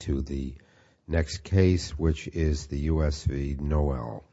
to the next case, which is the U.S. v. Noel.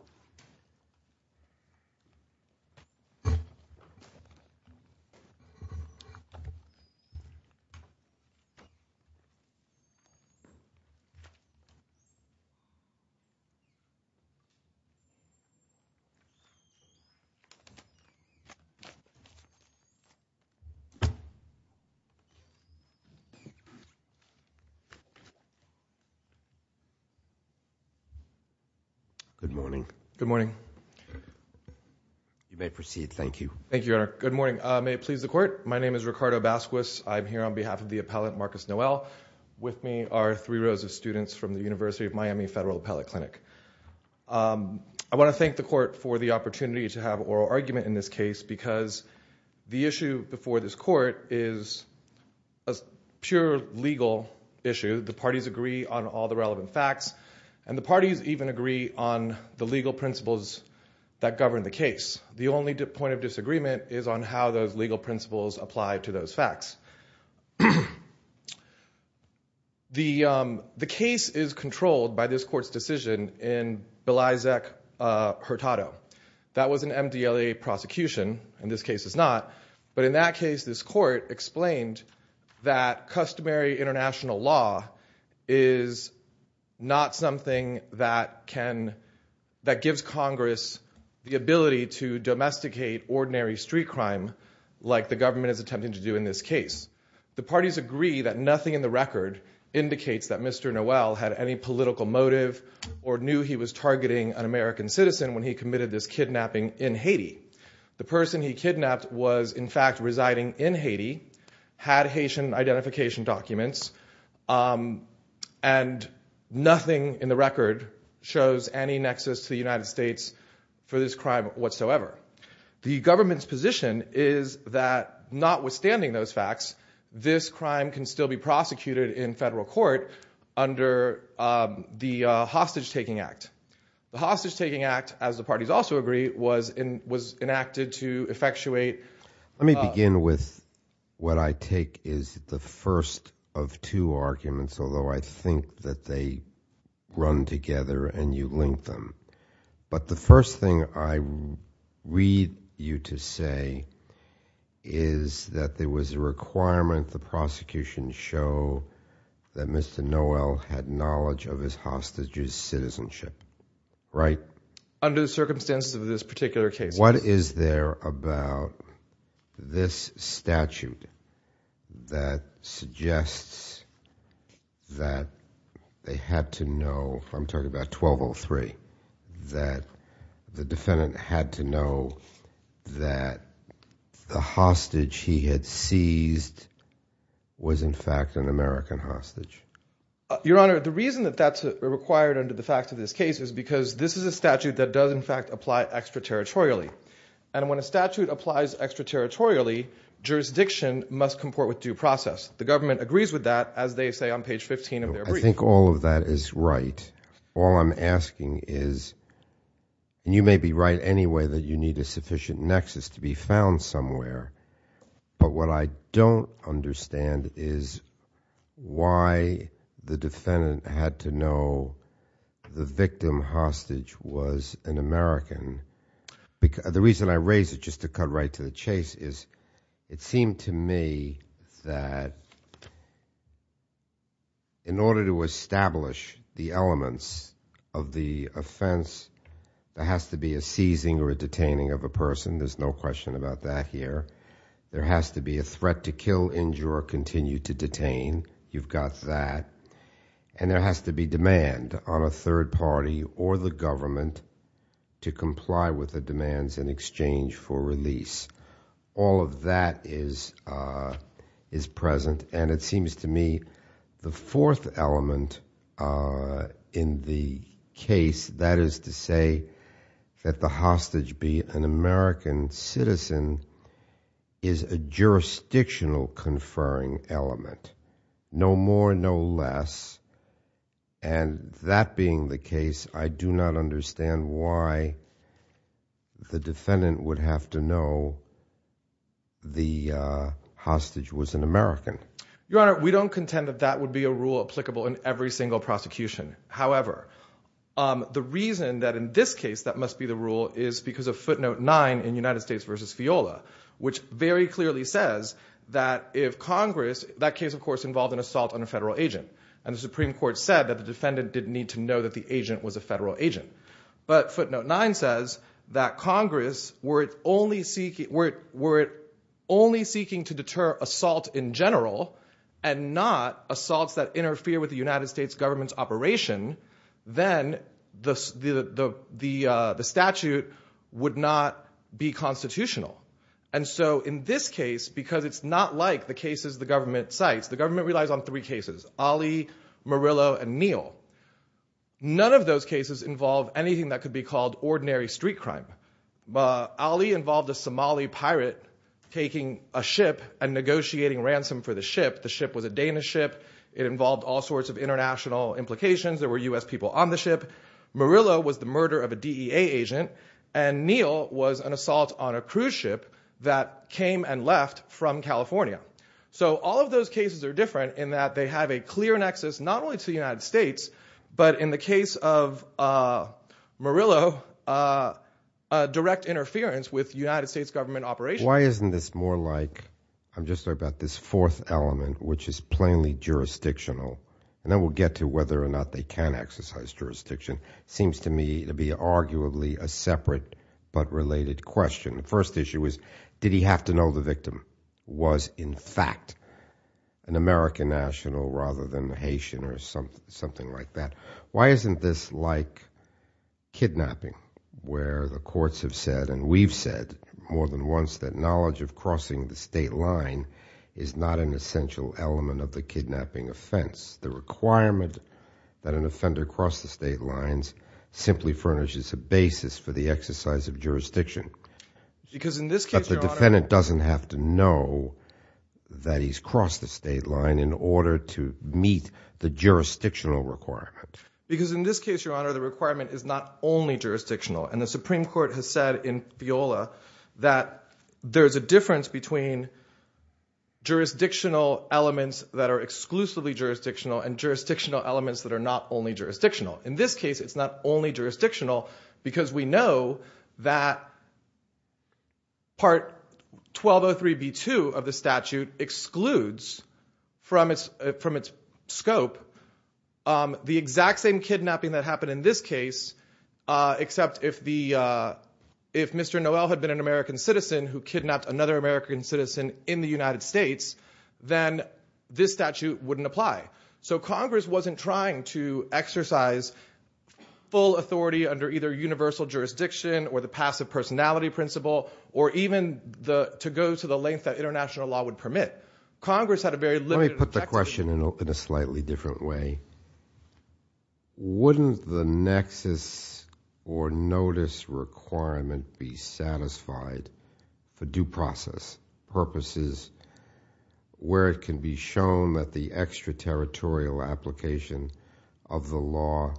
Good morning. Good morning. You may proceed. Thank you. Thank you, Your Honor. Good morning. May it please the Court, my name is Ricardo Basquez. I'm here on behalf of the appellant, Marcus Noel. With me are three rows of students from the University of Miami Federal Appellate Clinic. I want to thank the Court for the opportunity to have oral argument in this case because the issue before this Court is a pure legal issue. The parties agree on all the relevant facts, and the parties even agree on the legal principles that govern the case. The only point of disagreement is on how those legal principles apply to those facts. The case is controlled by this Court's decision in Belizec-Hurtado. That was an MDLA prosecution, and this case is not, but in that case this Court explained that customary international law is not something that gives Congress the ability to domesticate ordinary street crime like the government is attempting to do in this case. The parties agree that nothing in the record indicates that Mr. Noel had any political motive or knew he was targeting an American citizen when he committed this kidnapping in Haiti. The person he kidnapped was, in fact, residing in Haiti, had Haitian identification documents, and nothing in the record shows any nexus to the United States for this crime whatsoever. The government's position is that notwithstanding those facts, this crime can still be prosecuted in federal court under the Hostage-Taking Act. The Hostage-Taking Act, as the parties also agree, was enacted to effectuate- Let me begin with what I take is the first of two arguments, although I think that they run together and you link them. But the first thing I read you to say is that there was a requirement the prosecution show that Mr. Noel had knowledge of his hostage's citizenship, right? Under the circumstances of this particular case. What is there about this statute that suggests that they had to know, I'm talking about 1203, that the defendant had to know that the hostage he had seized was, in fact, an American hostage? Your Honor, the reason that that's required under the fact of this case is because this is a statute that does, in fact, apply extraterritorially. And when a statute applies extraterritorially, jurisdiction must comport with due process. The government agrees with that, as they say on page 15 of their brief. I think all of that is right. All I'm asking is, and you may be right anyway that you need a sufficient nexus to be found somewhere. But what I don't understand is why the defendant had to know the victim hostage was an American. The reason I raise it, just to cut right to the chase, is it seemed to me that in order to establish the elements of the offense, there has to be a seizing or a detaining of a person. There's no question about that here. There has to be a threat to kill, injure, or continue to detain. You've got that. And there has to be demand on a third party or the government to comply with the demands in exchange for release. All of that is present. And it seems to me the fourth element in the case, that is to say that the hostage, be an American citizen, is a jurisdictional conferring element. No more, no less. And that being the case, I do not understand why the defendant would have to know the hostage was an American. Your Honor, we don't contend that that would be a rule applicable in every single prosecution. However, the reason that in this case that must be the rule is because of footnote 9 in United States v. Fiola, which very clearly says that if Congress, that case of course involved an assault on a federal agent, and the Supreme Court said that the defendant didn't need to know that the agent was a federal agent. But footnote 9 says that Congress, were it only seeking to deter assault in general and not assaults that interfere with the United States government's operation, then the statute would not be constitutional. And so in this case, because it's not like the cases the government cites, the government relies on three cases, Ali, Murillo, and Neal. None of those cases involve anything that could be called ordinary street crime. Ali involved a Somali pirate taking a ship and negotiating ransom for the ship. The ship was a Danish ship. It involved all sorts of international implications. There were U.S. people on the ship. Murillo was the murder of a DEA agent. And Neal was an assault on a cruise ship that came and left from California. So all of those cases are different in that they have a clear nexus not only to the United States, but in the case of Murillo, direct interference with United States government operations. Why isn't this more like, I'm just talking about this fourth element, which is plainly jurisdictional, and then we'll get to whether or not they can exercise jurisdiction, seems to me to be arguably a separate but related question. The first issue is, did he have to know the victim was in fact an American national rather than a Haitian or something like that? Why isn't this like kidnapping, where the courts have said and we've said more than once that knowledge of crossing the state line is not an essential element of the kidnapping offense? The requirement that an offender cross the state lines simply furnishes a basis for the exercise of jurisdiction. Because in this case, Your Honor— Because in this case, Your Honor, the requirement is not only jurisdictional. And the Supreme Court has said in FIOLA that there's a difference between jurisdictional elements that are exclusively jurisdictional and jurisdictional elements that are not only jurisdictional. In this case, it's not only jurisdictional because we know that Part 1203b2 of the statute excludes from its scope the exact same kidnapping that happened in this case, except if Mr. Noel had been an American citizen who kidnapped another American citizen in the United States, then this statute wouldn't apply. So Congress wasn't trying to exercise full authority under either universal jurisdiction or the passive personality principle or even to go to the length that international law would permit. Congress had a very limited— Let me put the question in a slightly different way. Wouldn't the nexus or notice requirement be satisfied for due process purposes where it can be shown that the extraterritorial application of the law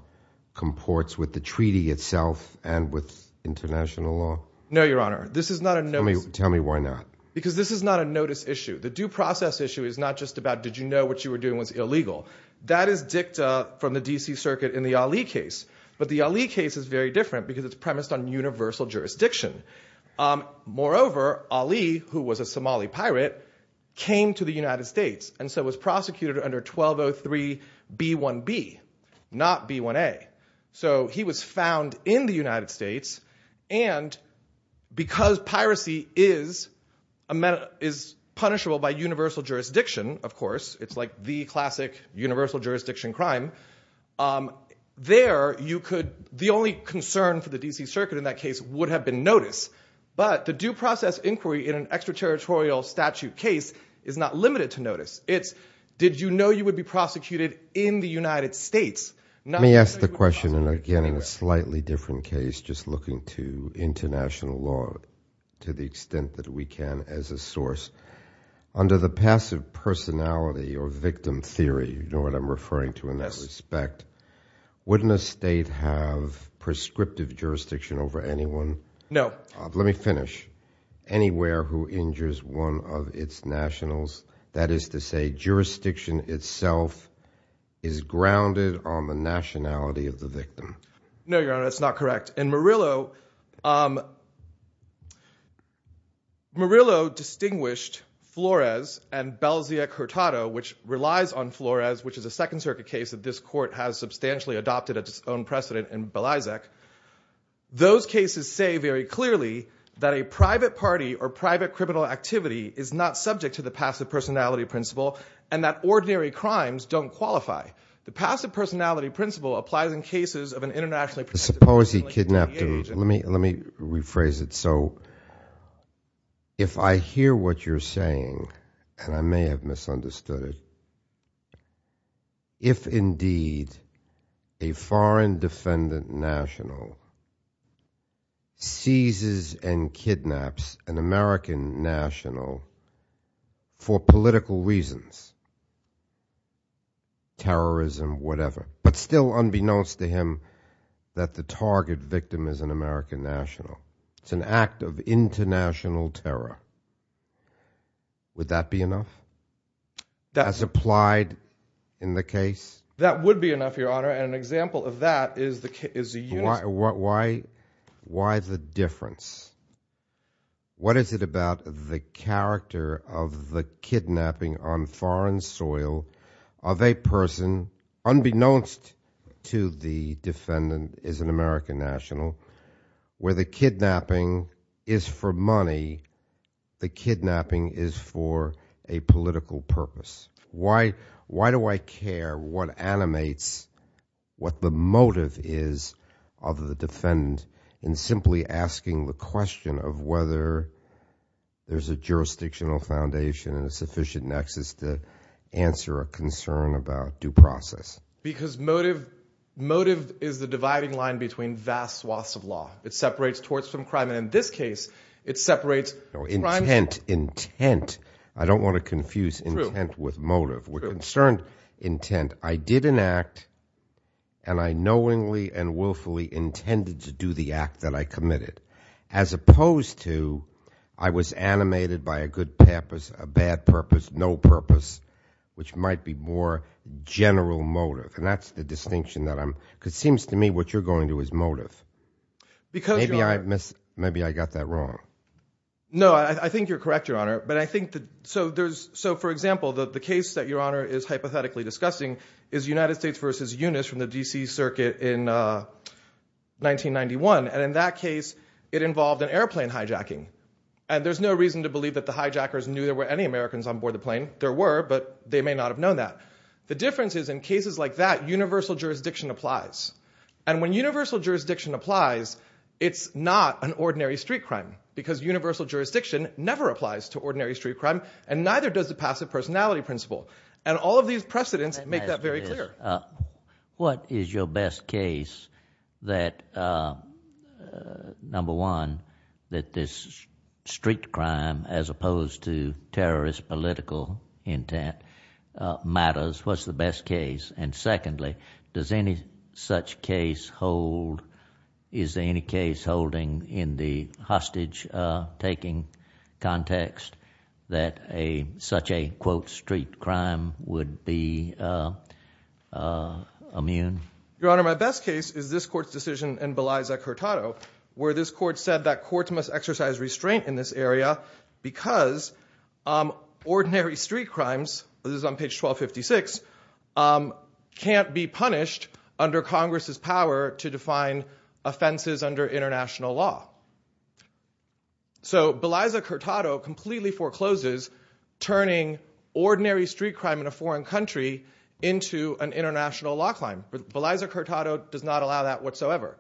comports with the treaty itself and with international law? No, Your Honor. This is not a notice— Tell me why not. Because this is not a notice issue. The due process issue is not just about did you know what you were doing was illegal. That is dicta from the D.C. Circuit in the Ali case. But the Ali case is very different because it's premised on universal jurisdiction. Moreover, Ali, who was a Somali pirate, came to the United States and so was prosecuted under 1203b1b, not b1a. So he was found in the United States. And because piracy is punishable by universal jurisdiction, of course, it's like the classic universal jurisdiction crime, there you could—the only concern for the D.C. Circuit in that case would have been notice. But the due process inquiry in an extraterritorial statute case is not limited to notice. It's did you know you would be prosecuted in the United States, not— Let me ask the question again in a slightly different case, just looking to international law to the extent that we can as a source. Under the passive personality or victim theory, you know what I'm referring to in that respect, wouldn't a state have prescriptive jurisdiction over anyone? No. Let me finish. Anywhere who injures one of its nationals, that is to say jurisdiction itself is grounded on the nationality of the victim. No, Your Honor, that's not correct. In Murillo, Murillo distinguished Flores and Belzec-Hurtado, which relies on Flores, which is a Second Circuit case that this court has substantially adopted its own precedent in Belzec. Those cases say very clearly that a private party or private criminal activity is not subject to the passive personality principle and that ordinary crimes don't qualify. The passive personality principle applies in cases of an internationally protected— Suppose he kidnapped—let me rephrase it. So if I hear what you're saying, and I may have misunderstood it, if indeed a foreign defendant national seizes and kidnaps an American national for political reasons—terrorism, whatever—but still unbeknownst to him that the target victim is an American national, it's an act of international terror, would that be enough as applied in the case? That would be enough, Your Honor, and an example of that is the— Why the difference? What is it about the character of the kidnapping on foreign soil of a person unbeknownst to the defendant is an American national, where the kidnapping is for money, the kidnapping is for a political purpose? Why do I care what animates, what the motive is of the defendant in simply asking the question of whether there's a jurisdictional foundation and a sufficient nexus to answer a concern about due process? Because motive is the dividing line between vast swaths of law. It separates torts from crime, and in this case, it separates crime— With motive. With concern intent, I did an act, and I knowingly and willfully intended to do the act that I committed, as opposed to I was animated by a good purpose, a bad purpose, no purpose, which might be more general motive, and that's the distinction that I'm—because it seems to me what you're going to do is motive. Maybe I got that wrong. No, I think you're correct, Your Honor. So, for example, the case that Your Honor is hypothetically discussing is United States versus Eunice from the D.C. Circuit in 1991, and in that case, it involved an airplane hijacking, and there's no reason to believe that the hijackers knew there were any Americans on board the plane. There were, but they may not have known that. The difference is in cases like that, universal jurisdiction applies, and when universal jurisdiction applies, it's not an ordinary street crime because universal jurisdiction never applies to ordinary street crime, and neither does the passive personality principle, and all of these precedents make that very clear. What is your best case that, number one, that this street crime as opposed to terrorist political intent matters? What's the best case? And, secondly, does any such case hold—is there any case holding in the hostage-taking context that such a, quote, street crime would be immune? Your Honor, my best case is this Court's decision in Belize v. Hurtado, where this Court said that courts must exercise restraint in this area because ordinary street crimes—this can't be punished under Congress's power to define offenses under international law. So Belize v. Hurtado completely forecloses turning ordinary street crime in a foreign country into an international law crime. Belize v. Hurtado does not allow that whatsoever.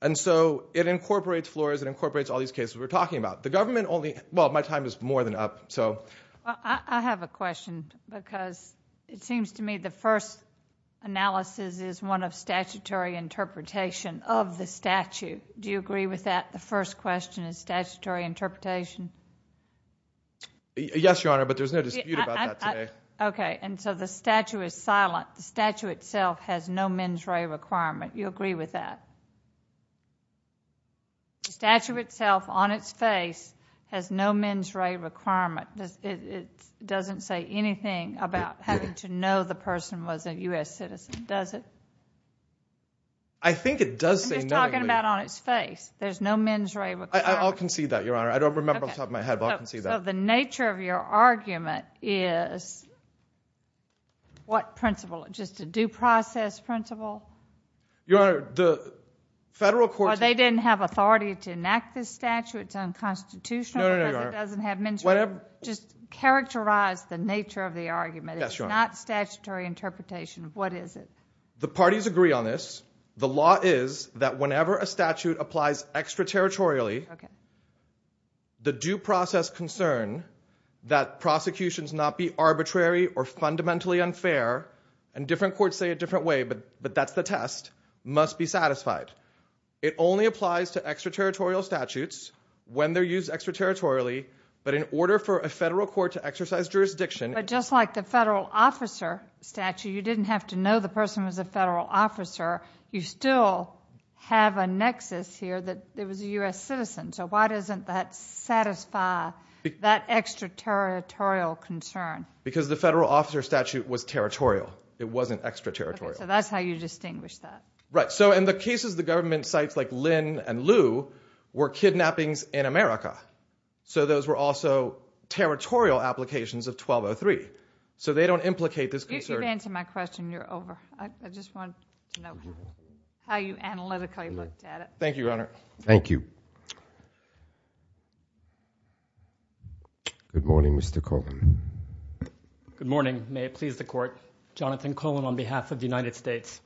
And so it incorporates floors, it incorporates all these cases we're talking about. The government only—well, my time is more than up, so. Well, I have a question because it seems to me the first analysis is one of statutory interpretation of the statute. Do you agree with that, the first question is statutory interpretation? Yes, Your Honor, but there's no dispute about that today. Okay. And so the statute is silent. The statute itself has no mens rea requirement. You agree with that? The statute itself, on its face, has no mens rea requirement. It doesn't say anything about having to know the person was a U.S. citizen, does it? I think it does say nothing. I'm just talking about on its face. There's no mens rea requirement. I'll concede that, Your Honor. I don't remember off the top of my head, but I'll concede that. Okay. So the nature of your argument is what principle? Just a due process principle? Your Honor, the federal courts— Or they didn't have authority to enact this statute? It's unconstitutional because it doesn't have mens rea? Just characterize the nature of the argument. It's not statutory interpretation. What is it? The parties agree on this. The law is that whenever a statute applies extraterritorially, the due process concern that prosecutions not be arbitrary or fundamentally unfair—and different courts say it a different way, but that's the test—must be satisfied. It only applies to extraterritorial statutes when they're used extraterritorially, but in order for a federal court to exercise jurisdiction— But just like the federal officer statute, you didn't have to know the person was a federal officer. You still have a nexus here that it was a U.S. citizen. So why doesn't that satisfy that extraterritorial concern? Because the federal officer statute was territorial. It wasn't extraterritorial. Okay. So that's how you distinguish that. Right. So in the cases the government cites, like Lynn and Lew, were kidnappings in America. So those were also territorial applications of 1203. So they don't implicate this concern— If you've answered my question, you're over. I just wanted to know how you analytically looked at it. Thank you, Your Honor. Thank you. Good morning, Mr. Cohen. Good morning. May it please the Court. Jonathan Cohen on behalf of the United States.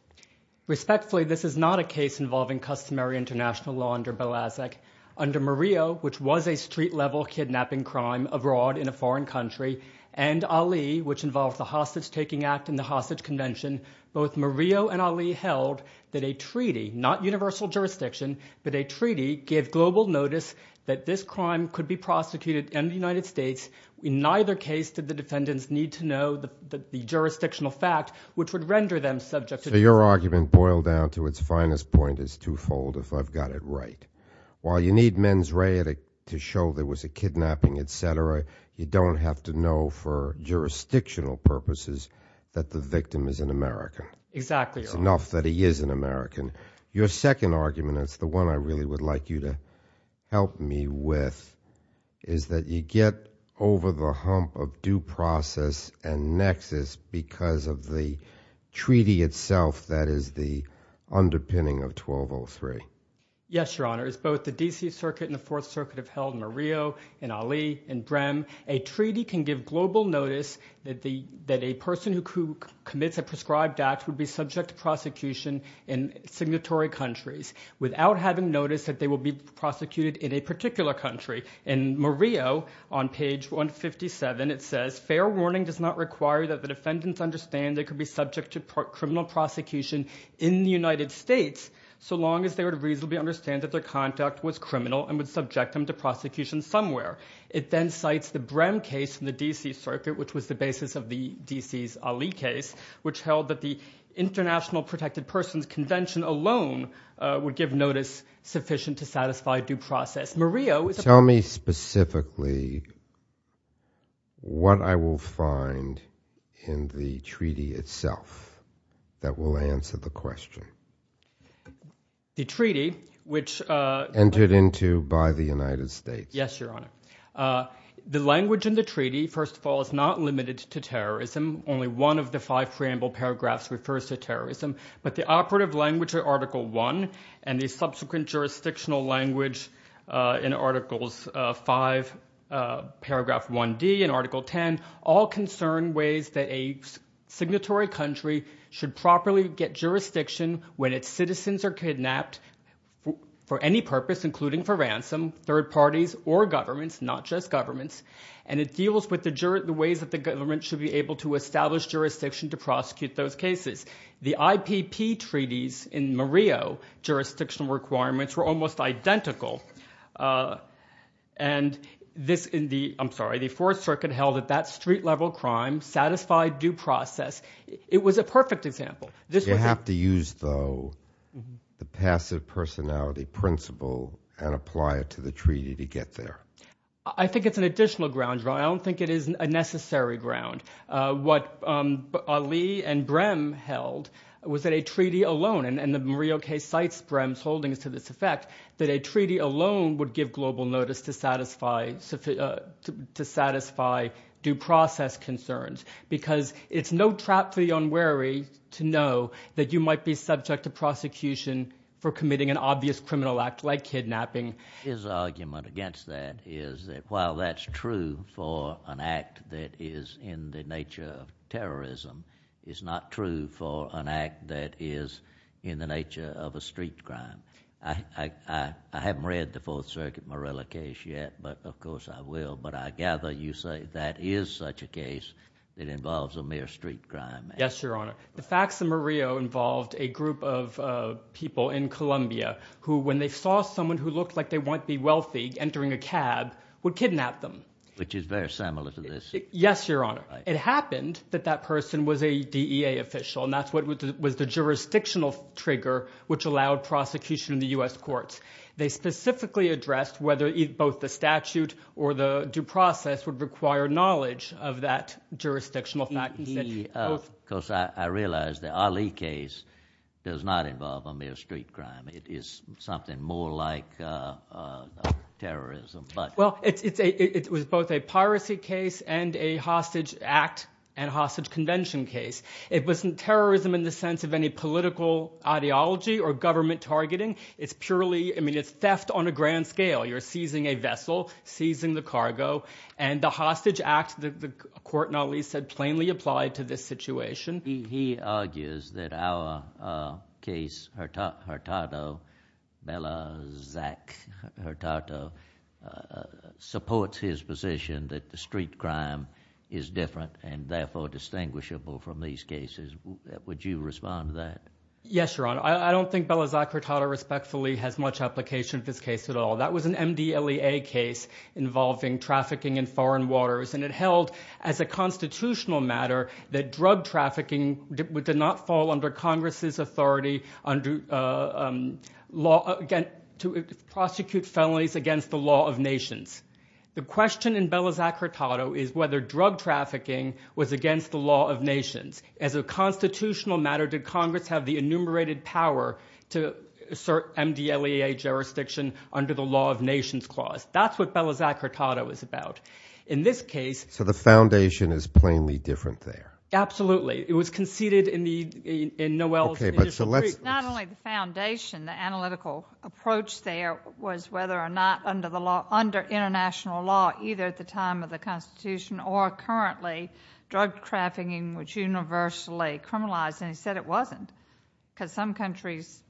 Respectfully, this is not a case involving customary international law under Belazec. Under Murillo, which was a street-level kidnapping crime abroad in a foreign country, and Ali, which involved the Hostage-Taking Act and the Hostage Convention, both Murillo and Ali held that a treaty—not universal jurisdiction, but a treaty—gave global notice that this crime could be prosecuted in the United States. In neither case did the defendants need to know the jurisdictional fact, which would Your argument, boiled down to its finest point, is twofold, if I've got it right. While you need mens rea to show there was a kidnapping, etc., you don't have to know for jurisdictional purposes that the victim is an American. Exactly, Your Honor. It's enough that he is an American. Your second argument, and it's the one I really would like you to help me with, is you get over the hump of due process and nexus because of the treaty itself that is the underpinning of 1203. Yes, Your Honor. As both the D.C. Circuit and the Fourth Circuit have held Murillo and Ali and Brehm, a treaty can give global notice that a person who commits a prescribed act would be subject to prosecution in signatory countries without having noticed that they will be prosecuted in a particular country. In Murillo, on page 157, it says, Fair warning does not require that the defendants understand they could be subject to criminal prosecution in the United States so long as they would reasonably understand that their conduct was criminal and would subject them to prosecution somewhere. It then cites the Brehm case in the D.C. Circuit, which was the basis of the D.C.'s Ali case, which held that the International Protected Persons Convention alone would give notice sufficient to satisfy due process. Tell me specifically what I will find in the treaty itself that will answer the question. The treaty, which... Entered into by the United States. Yes, Your Honor. The language in the treaty, first of all, is not limited to terrorism. Only one of the five preamble paragraphs refers to terrorism, but the operative language of in articles 5 paragraph 1D and article 10 all concern ways that a signatory country should properly get jurisdiction when its citizens are kidnapped for any purpose, including for ransom, third parties, or governments, not just governments. And it deals with the ways that the government should be able to establish jurisdiction to prosecute those cases. The IPP treaties in Murillo, jurisdictional requirements were almost identical. And this in the, I'm sorry, the Fourth Circuit held that that street-level crime satisfied due process. It was a perfect example. This was a... You have to use, though, the passive personality principle and apply it to the treaty to get there. I think it's an additional ground, Your Honor. I don't think it is a necessary ground. What Ali and Brehm held was that a treaty alone, and the Murillo case cites Brehm's holdings to this effect, that a treaty alone would give global notice to satisfy due process concerns because it's no trap for the unwary to know that you might be subject to prosecution for committing an obvious criminal act like kidnapping. His argument against that is that while that's true for an act that is in the nature of terrorism, it's not true for an act that is in the nature of a street crime. I haven't read the Fourth Circuit Murillo case yet, but of course I will. But I gather you say that is such a case that involves a mere street crime. Yes, Your Honor. The facts of Murillo involved a group of people in Colombia who, when they saw someone who looked like they might be wealthy entering a cab, would kidnap them. Which is very similar to this. Yes, Your Honor. It happened that that person was a DEA official, and that's what was the jurisdictional trigger which allowed prosecution in the U.S. courts. They specifically addressed whether both the statute or the due process would require knowledge of that jurisdictional fact. Of course, I realize the Ali case does not involve a mere street crime. It is something more like terrorism. Well, it was both a piracy case and a hostage act and hostage convention case. It wasn't terrorism in the sense of any political ideology or government targeting. It's purely, I mean, it's theft on a grand scale. You're seizing a vessel, seizing the cargo. And the hostage act, the court not least, had plainly applied to this situation. He argues that our case, Hurtado, Bella Zack Hurtado, supports his position that the street crime is different and therefore distinguishable from these cases. Would you respond to that? Yes, Your Honor. I don't think Bella Zack Hurtado respectfully has much application to this case at all. That was an MDLEA case involving trafficking in foreign waters, and it held as a constitutional matter that drug trafficking did not fall under Congress's authority to prosecute felonies against the law of nations. The question in Bella Zack Hurtado is whether drug trafficking was against the law of nations. As a constitutional matter, did Congress have the enumerated power to assert MDLEA jurisdiction under the law of nations clause? That's what Bella Zack Hurtado is about. In this case- So it's different there. Absolutely. It was conceded in Noel's initial brief. Okay, but so let's- Not only the foundation, the analytical approach there was whether or not under international law, either at the time of the Constitution or currently, drug trafficking was universally criminalized. And he said it wasn't, because some countries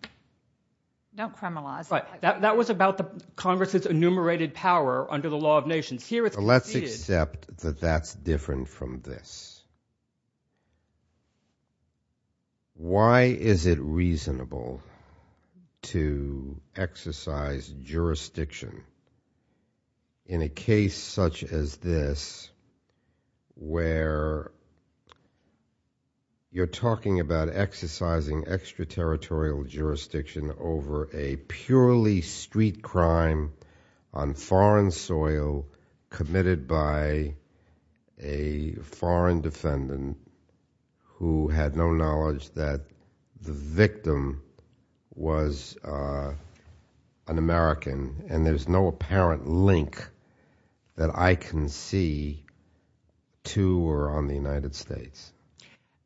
don't criminalize it. That was about Congress's enumerated power under the law of nations. Here it's conceded- Yes. Why is it reasonable to exercise jurisdiction in a case such as this where you're talking about exercising extraterritorial jurisdiction over a purely street crime on foreign soil committed by a foreign defendant who had no knowledge that the victim was an American and there's no apparent link that I can see to or on the United States?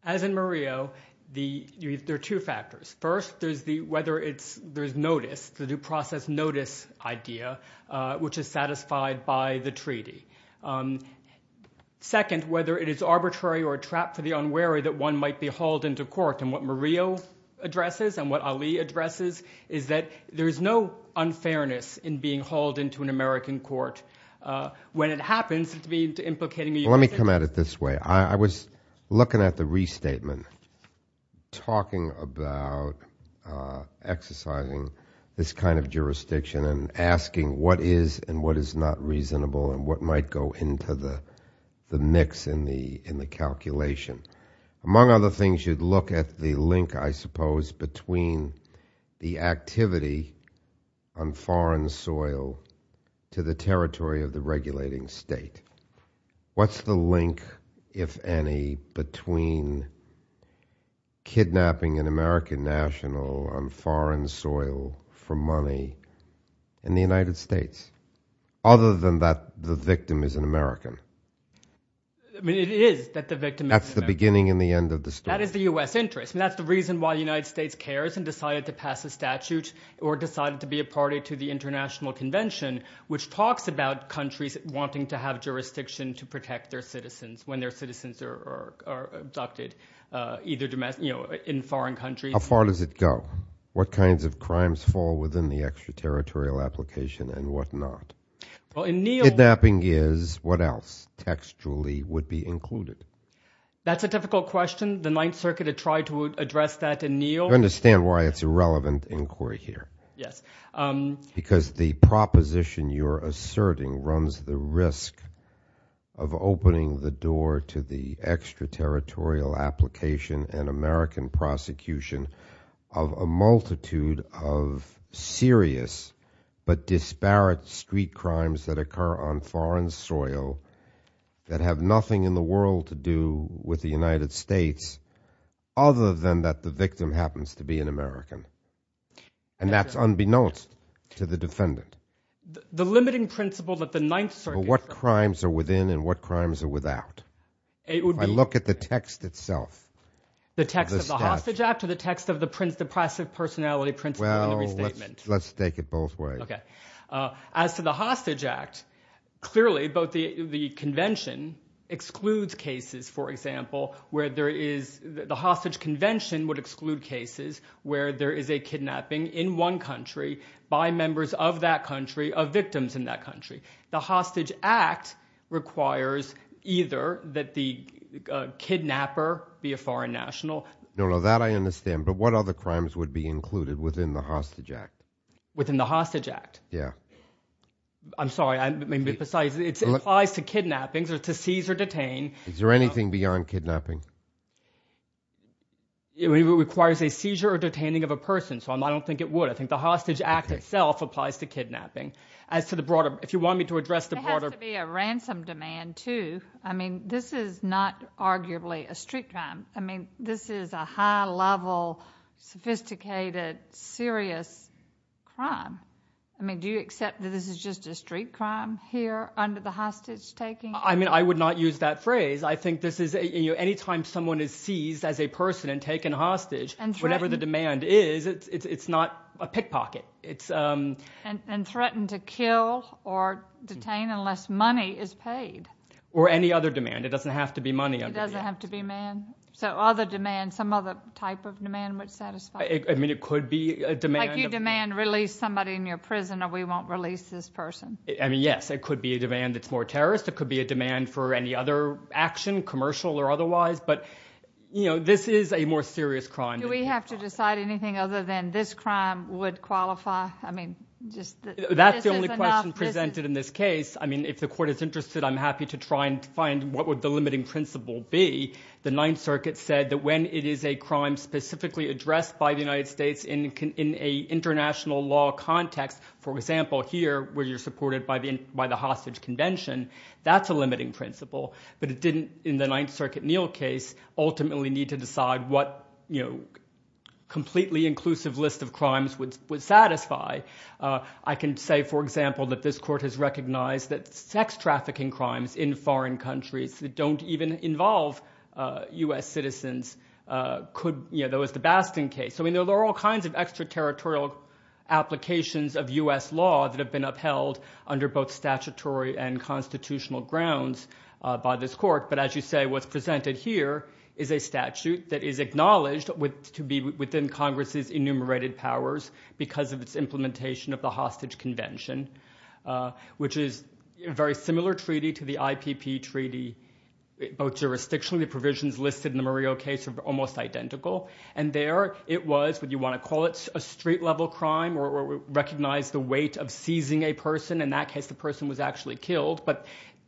As in Murillo, there are two factors. First, there's whether there's notice, the due process notice idea, which is satisfied by the treaty. Second, whether it is arbitrary or a trap for the unwary that one might be hauled into court. And what Murillo addresses and what Ali addresses is that there is no unfairness in being hauled into an American court when it happens to be implicating the United States. Let me come at it this way. I was looking at the restatement, talking about exercising this kind of jurisdiction and asking what is and what is not reasonable and what might go into the mix in the calculation. Among other things, you'd look at the link, I suppose, between the activity on foreign soil to the territory of the regulating state. What's the link, if any, between kidnapping an American national on foreign soil for money in the United States, other than that the victim is an American? I mean, it is that the victim is an American. That's the beginning and the end of the story. That is the U.S. interest. I mean, that's the reason why the United States cares and decided to pass a statute or decided to be a party to the International Convention, which talks about countries wanting to have jurisdiction to protect their citizens when their citizens are abducted, either in foreign countries. How far does it go? What kinds of crimes fall within the extraterritorial application and what not? Kidnapping is, what else textually would be included? That's a difficult question. The Ninth Circuit had tried to address that in Neal. You understand why it's a relevant inquiry here? Yes. Because the proposition you're asserting runs the risk of opening the door to the extraterritorial application and American prosecution of a multitude of serious but disparate street crimes that occur on foreign soil that have nothing in the world to do with the United States, other than that the victim happens to be an American. And that's unbeknownst to the defendant. The limiting principle that the Ninth Circuit... What crimes are within and what crimes are without? It would be... If I look at the text itself. The text of the Hostage Act or the text of the Depressive Personality Principle and Restatement? Let's take it both ways. Okay. As to the Hostage Act, clearly both the convention excludes cases, for example, where there is the hostage convention would exclude cases where there is a kidnapping in one country by members of that country of victims in that country. The Hostage Act requires either that the kidnapper be a foreign national... No, no, that I understand. But what other crimes would be included within the Hostage Act? Within the Hostage Act? Yeah. I'm sorry. I may be precise. It applies to kidnappings or to seize or detain. Is there anything beyond kidnapping? It requires a seizure or detaining of a person, so I don't think it would. I think the Hostage Act itself applies to kidnapping. As to the broader... If you want me to address the broader... It has to be a ransom demand, too. I mean, this is not arguably a street crime. I mean, this is a high-level, sophisticated, serious crime. I mean, do you accept that this is just a street crime here under the hostage taking? I mean, I would not use that phrase. I think this is... Any time someone is seized as a person and taken hostage, whatever the demand is, it's not a pickpocket. And threatened to kill or detain unless money is paid. Or any other demand. It doesn't have to be money under the Hostage Act. It doesn't have to be man. So other demands, some other type of demand would satisfy. I mean, it could be a demand... Like you demand, release somebody in your prison or we won't release this person. I mean, yes. It could be a demand that's more terrorist. It could be a demand for any other action, commercial or otherwise, but this is a more serious crime. Do we have to decide anything other than this crime would qualify? I mean, just... That's the only question presented in this case. I mean, if the court is interested, I'm happy to try and find what would the limiting principle be. The Ninth Circuit said that when it is a crime specifically addressed by the United States in an international law context, for example, here, where you're supported by the hostage convention, that's a limiting principle. But it didn't, in the Ninth Circuit Neal case, ultimately need to decide what completely inclusive list of crimes would satisfy. I can say, for example, that this court has recognized that sex trafficking crimes in foreign countries that don't even involve U.S. citizens could... You know, there was the Basting case. I mean, there are all kinds of extraterritorial applications of U.S. law that have been upheld under both statutory and constitutional grounds by this court, but as you say, what's presented here is a statute that is acknowledged to be within Congress's enumerated powers because of its implementation of the hostage convention, which is a very similar treaty to the IPP Treaty, both jurisdictionally. The provisions listed in the Murillo case are almost identical, and there it was, what you want to call it, a street-level crime, or recognize the weight of seizing a person. In that case, the person was actually killed, but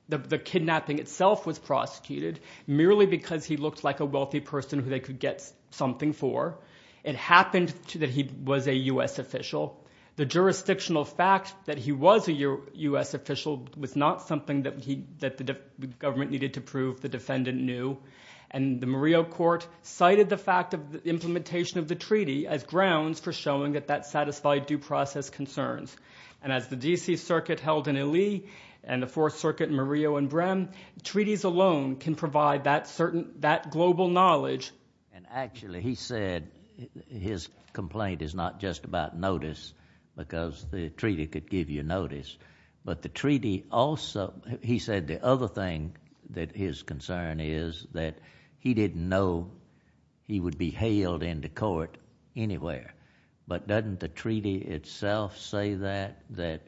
the kidnapping itself was prosecuted merely because he looked like a wealthy person who they could get something for. It happened that he was a U.S. official. The jurisdictional fact that he was a U.S. official was not something that the government needed to prove the defendant knew, and the Murillo court cited the fact of the implementation of the treaty as grounds for showing that that satisfied due process concerns, and as the D.C. Circuit held in Ely and the Fourth Circuit in Murillo and Brehm, treaties alone can provide that global knowledge. And actually, he said his complaint is not just about notice because the treaty could The other thing that his concern is that he didn't know he would be hailed into court anywhere, but doesn't the treaty itself say that, that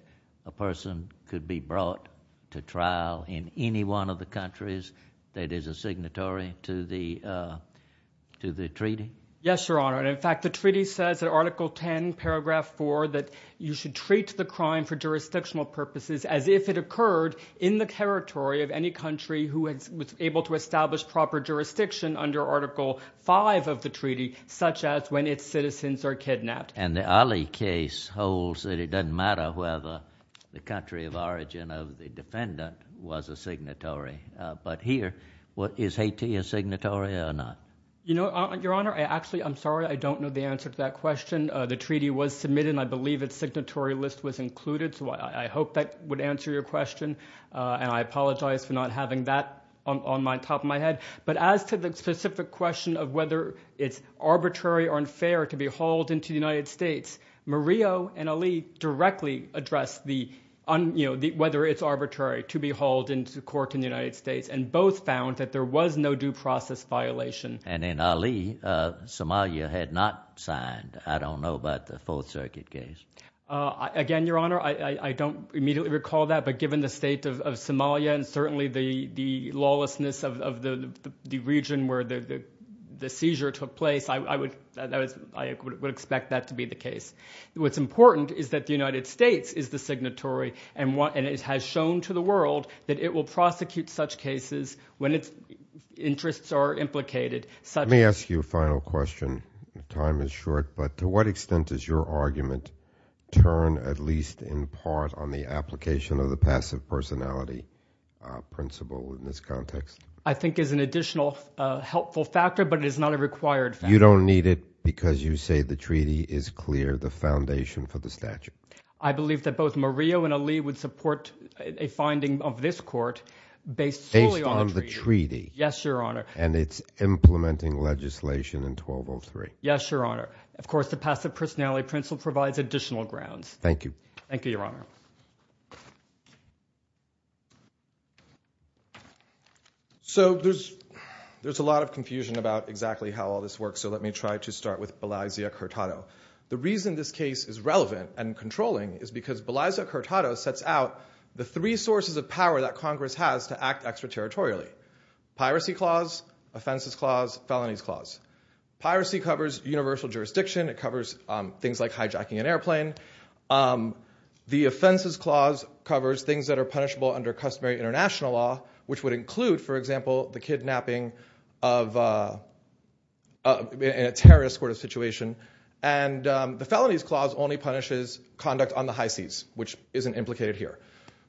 a person could be brought to trial in any one of the countries that is a signatory to the treaty? Yes, Your Honor, and in fact, the treaty says in Article 10, Paragraph 4, that you should treat the crime for jurisdictional purposes as if it occurred in the territory of any country who was able to establish proper jurisdiction under Article 5 of the treaty, such as when its citizens are kidnapped. And the Ali case holds that it doesn't matter whether the country of origin of the defendant was a signatory, but here, is Haiti a signatory or not? You know, Your Honor, actually, I'm sorry, I don't know the answer to that question. The treaty was submitted, and I believe its signatory list was included, so I hope that would answer your question, and I apologize for not having that on top of my head. But as to the specific question of whether it's arbitrary or unfair to be hauled into the United States, Murillo and Ali directly addressed whether it's arbitrary to be hauled into court in the United States, and both found that there was no due process violation. And in Ali, Somalia had not signed. I don't know about the Fourth Circuit case. Again, Your Honor, I don't immediately recall that, but given the state of Somalia and certainly the lawlessness of the region where the seizure took place, I would expect that to be the case. What's important is that the United States is the signatory, and it has shown to the Let me ask you a final question. Time is short, but to what extent does your argument turn at least in part on the application of the passive personality principle in this context? I think it's an additional helpful factor, but it is not a required factor. You don't need it because you say the treaty is clear, the foundation for the statute. I believe that both Murillo and Ali would support a finding of this court based solely on the treaty. Based on the treaty. Yes, Your Honor. And it's implementing legislation in 1203. Yes, Your Honor. Of course, the passive personality principle provides additional grounds. Thank you. Thank you, Your Honor. So there's a lot of confusion about exactly how all this works, so let me try to start with Belize Accurtado. The reason this case is relevant and controlling is because Belize Accurtado sets out the three sources of power that Congress has to act extraterritorially. Piracy clause, offenses clause, felonies clause. Piracy covers universal jurisdiction, it covers things like hijacking an airplane. The offenses clause covers things that are punishable under customary international law, which would include, for example, the kidnapping in a terrorist sort of situation. And the felonies clause only punishes conduct on the high seas, which isn't implicated here.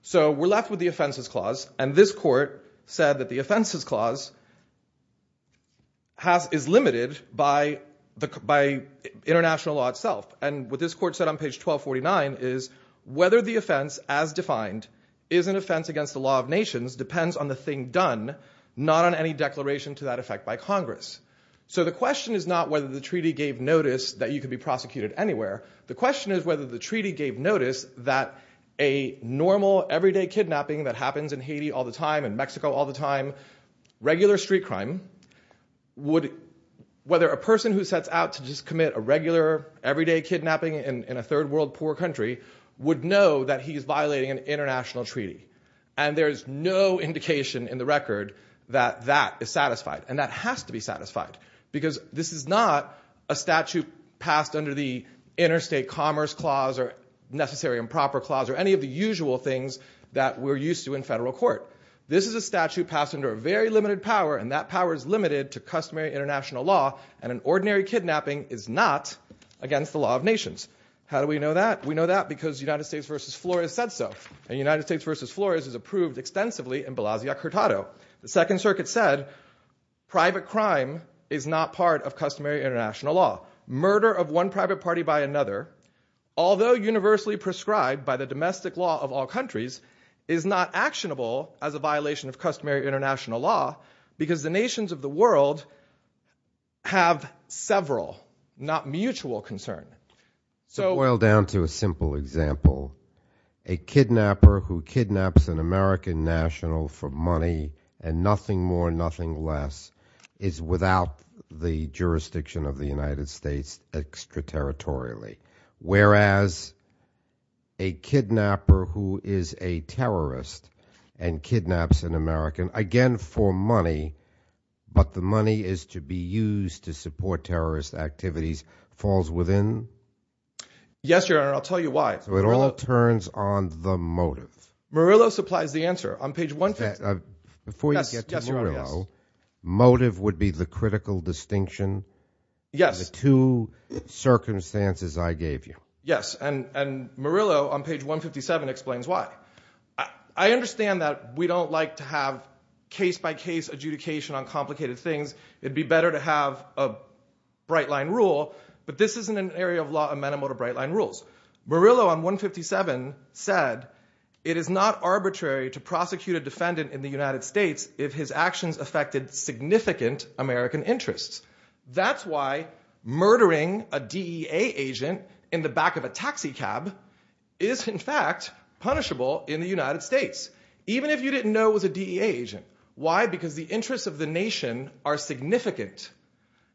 So we're left with the offenses clause, and this court said that the offenses clause is limited by international law itself. And what this court said on page 1249 is, whether the offense as defined is an offense against the law of nations depends on the thing done, not on any declaration to that effect by Congress. So the question is not whether the treaty gave notice that you could be prosecuted anywhere. The question is whether the treaty gave notice that a normal, everyday kidnapping that happens in Haiti all the time and Mexico all the time, regular street crime, whether a person who sets out to just commit a regular, everyday kidnapping in a third world poor country would know that he is violating an international treaty. And there is no indication in the record that that is satisfied. And that has to be satisfied. Because this is not a statute passed under the interstate commerce clause or necessary improper clause or any of the usual things that we're used to in federal court. This is a statute passed under a very limited power, and that power is limited to customary international law, and an ordinary kidnapping is not against the law of nations. How do we know that? We know that because United States v. Flores said so, and United States v. Flores is approved extensively in Belasio-Curtado. The Second Circuit said private crime is not part of customary international law. Murder of one private party by another, although universally prescribed by the domestic law of all countries, is not actionable as a violation of customary international law because the nations of the world have several, not mutual concern. So oil down to a simple example. A kidnapper who kidnaps an American national for money and nothing more, nothing less is without the jurisdiction of the United States extraterritorially, whereas a kidnapper who is a terrorist and kidnaps an American, again for money, but the money is to be used to Yes, Your Honor, and I'll tell you why. So it all turns on the motive. Murillo supplies the answer. On page 157. Before you get to Murillo, motive would be the critical distinction, the two circumstances I gave you. Yes, and Murillo on page 157 explains why. I understand that we don't like to have case-by-case adjudication on complicated things, it'd be better to have a bright-line rule, but this isn't an area of law amenable to bright-line rules. Murillo on 157 said, it is not arbitrary to prosecute a defendant in the United States if his actions affected significant American interests. That's why murdering a DEA agent in the back of a taxi cab is, in fact, punishable in the United States, even if you didn't know it was a DEA agent. Why? Why? Because the interests of the nation are significant,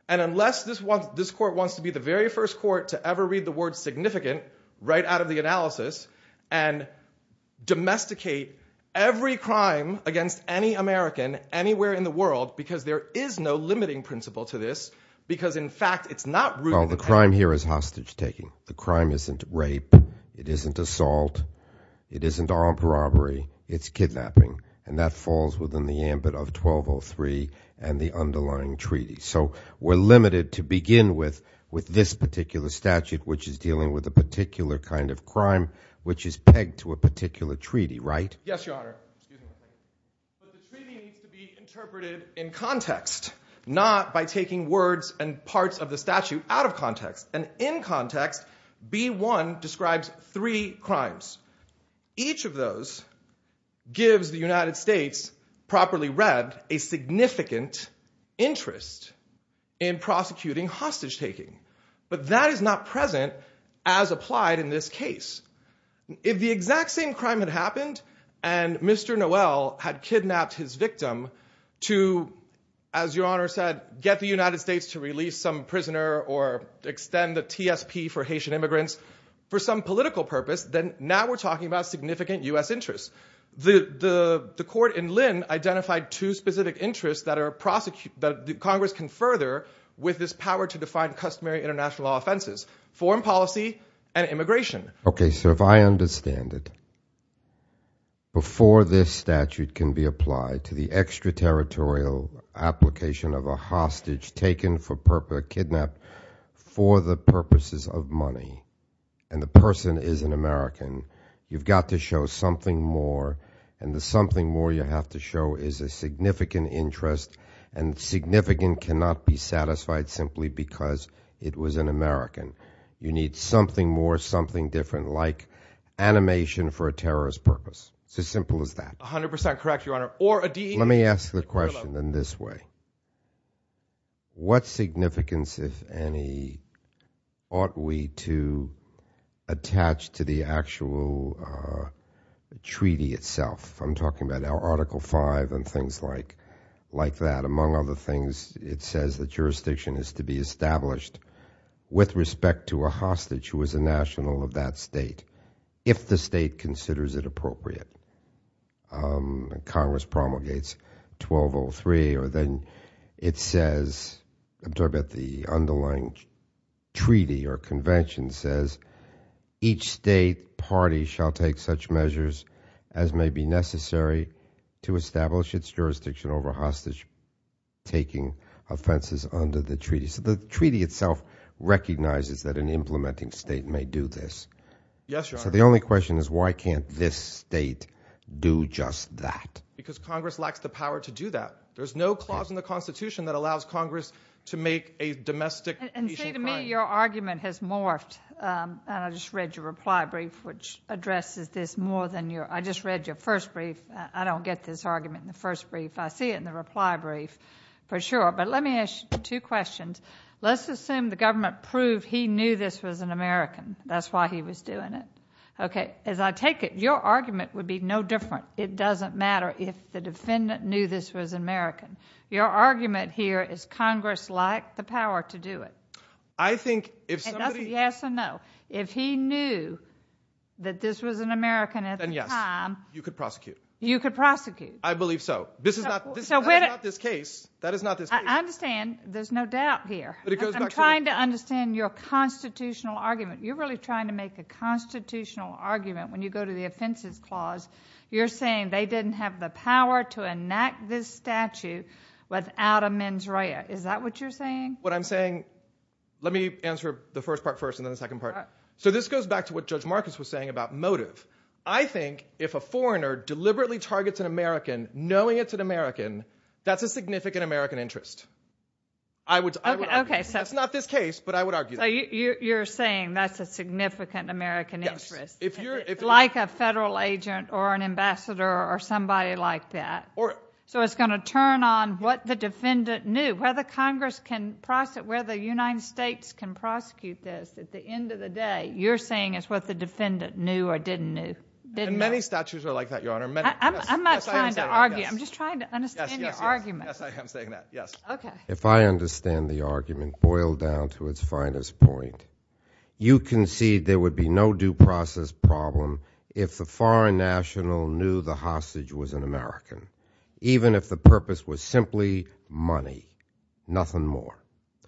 and unless this court wants to be the very first court to ever read the word significant right out of the analysis and domesticate every crime against any American anywhere in the world, because there is no limiting principle to this, because, in fact, it's not rooted in the fact that Well, the crime here is hostage-taking. The crime isn't rape, it isn't assault, it isn't armed robbery, it's kidnapping, and that falls within the ambit of 1203 and the underlying treaty. So we're limited to begin with this particular statute, which is dealing with a particular kind of crime, which is pegged to a particular treaty, right? Yes, Your Honor. But the treaty needs to be interpreted in context, not by taking words and parts of the statute out of context. And in context, B-1 describes three crimes. Each of those gives the United States, properly read, a significant interest in prosecuting hostage-taking, but that is not present as applied in this case. If the exact same crime had happened and Mr. Noel had kidnapped his victim to, as Your Honor said, get the United States to release some prisoner or extend the TSP for Haitian Now we're talking about significant U.S. interests. The court in Lynn identified two specific interests that Congress can further with this power to define customary international law offenses, foreign policy and immigration. Okay, so if I understand it, before this statute can be applied to the extraterritorial application of a hostage taken for purpose, kidnapped for the purposes of money, and the person is an American, you've got to show something more, and the something more you have to show is a significant interest, and significant cannot be satisfied simply because it was an American. You need something more, something different, like animation for a terrorist purpose. It's as simple as that. 100% correct, Your Honor. Or a DEA. Let me ask the question in this way. What significance, if any, ought we to attach to the actual treaty itself? I'm talking about Article 5 and things like that. Among other things, it says the jurisdiction is to be established with respect to a hostage who is a national of that state, if the state considers it appropriate. Congress promulgates 1203, or then it says, I'm talking about the underlying treaty or convention says, each state party shall take such measures as may be necessary to establish its jurisdiction over hostage taking offenses under the treaty. So the treaty itself recognizes that an implementing state may do this. Yes, Your Honor. The only question is why can't this state do just that? Because Congress lacks the power to do that. There's no clause in the Constitution that allows Congress to make a domestic issue claim. And see, to me, your argument has morphed, and I just read your reply brief, which addresses this more than your, I just read your first brief. I don't get this argument in the first brief. I see it in the reply brief, for sure, but let me ask you two questions. Let's assume the government proved he knew this was an American. That's why he was doing it. Okay. As I take it, your argument would be no different. It doesn't matter if the defendant knew this was American. Your argument here is Congress lacked the power to do it. I think if somebody... It doesn't, yes or no. If he knew that this was an American at the time... Then yes, you could prosecute. You could prosecute. I believe so. This is not, this is not this case. That is not this case. I understand. There's no doubt here. But it goes back to... I'm trying to understand your constitutional argument. You're really trying to make a constitutional argument when you go to the offenses clause. You're saying they didn't have the power to enact this statute without a mens rea. Is that what you're saying? What I'm saying... Let me answer the first part first and then the second part. So this goes back to what Judge Marcus was saying about motive. I think if a foreigner deliberately targets an American knowing it's an American, that's a significant American interest. I would... Okay. That's not this case, but I would argue that. So you're saying that's a significant American interest. Yes. Like a federal agent or an ambassador or somebody like that. So it's going to turn on what the defendant knew, whether Congress can prosecute, whether the United States can prosecute this. At the end of the day, you're saying it's what the defendant knew or didn't know. Many statutes are like that, Your Honor. I'm not trying to argue. I'm just trying to understand your argument. Yes. Yes. Yes. I am saying that. Yes. Okay. If I understand the argument boiled down to its finest point, you concede there would be no due process problem if the foreign national knew the hostage was an American, even if the purpose was simply money, nothing more.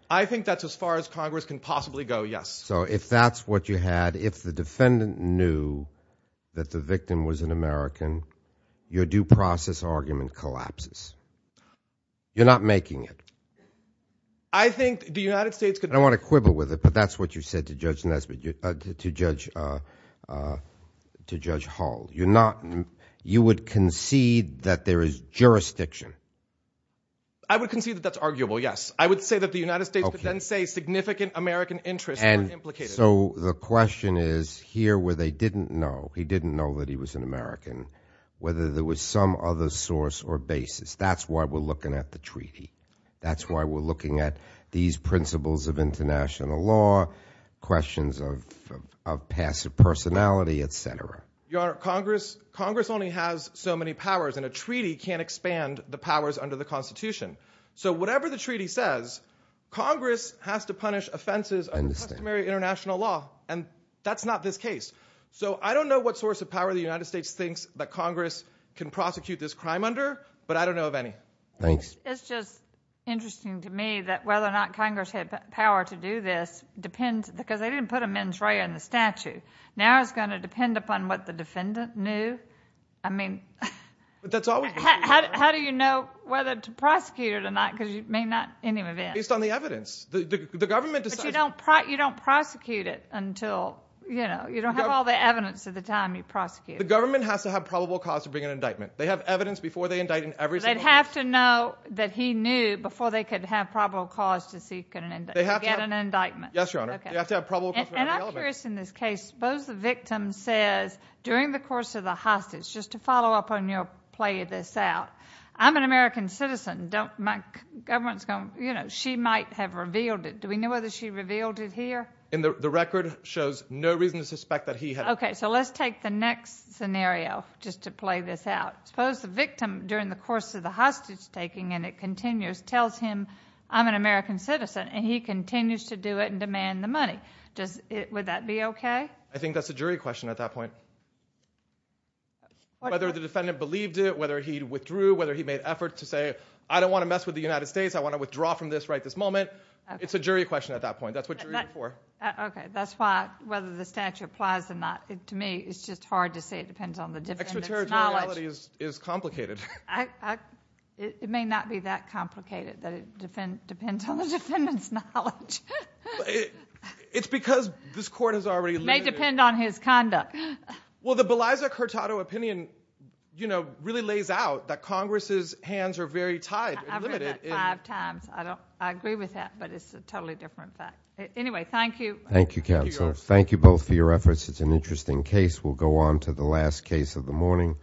I think that's as far as Congress can possibly go, yes. So if that's what you had, if the defendant knew that the victim was an American, your due process argument collapses. You're not making it. I think the United States could- I don't want to quibble with it, but that's what you said to Judge Hull. You would concede that there is jurisdiction. I would concede that that's arguable, yes. I would say that the United States could then say significant American interests were implicated. So the question is, here where they didn't know, he didn't know that he was an American, whether there was some other source or basis. That's why we're looking at the treaty. That's why we're looking at these principles of international law, questions of passive personality, et cetera. Your Honor, Congress only has so many powers, and a treaty can't expand the powers under the Constitution. So whatever the treaty says, Congress has to punish offenses under customary international law, and that's not this case. So I don't know what source of power the United States thinks that Congress can prosecute this crime under, but I don't know of any. Thanks. It's just interesting to me that whether or not Congress had power to do this depends- because they didn't put a mens rea in the statute. Now it's going to depend upon what the defendant knew. I mean- But that's always- How do you know whether to prosecute it or not, because you may not in any event- Based on the evidence. The government decides- You don't prosecute it until, you know, you don't have all the evidence at the time you prosecute it. The government has to have probable cause to bring an indictment. They have evidence before they indict in every single case. They'd have to know that he knew before they could have probable cause to get an indictment. They have to have- Yes, Your Honor. Okay. They have to have probable cause- And I'm curious in this case, suppose the victim says during the course of the hostage, just to follow up on your play of this out, I'm an American citizen, don't- my government's going- you know, she might have revealed it. Do we know whether she revealed it here? And the record shows no reason to suspect that he had- Okay. So let's take the next scenario just to play this out. Suppose the victim during the course of the hostage taking, and it continues, tells him I'm an American citizen, and he continues to do it and demand the money. Would that be okay? I think that's a jury question at that point. Whether the defendant believed it, whether he withdrew, whether he made effort to say I don't want to mess with the United States. I want to withdraw from this right this moment. It's a jury question at that point. That's what you're in for. Okay. That's why whether the statute applies or not, to me, it's just hard to say it depends on the defendant's knowledge. Extraterritoriality is complicated. It may not be that complicated, that it depends on the defendant's knowledge. It's because this court has already- It may depend on his conduct. Well, the Beliza Curtado opinion, you know, really lays out that Congress's hands are very tied and limited. I've heard that five times. I agree with that, but it's a totally different fact. Anyway, thank you. Thank you, counsel. Thank you both for your efforts. It's an interesting case. We'll go on to the last case of the morning.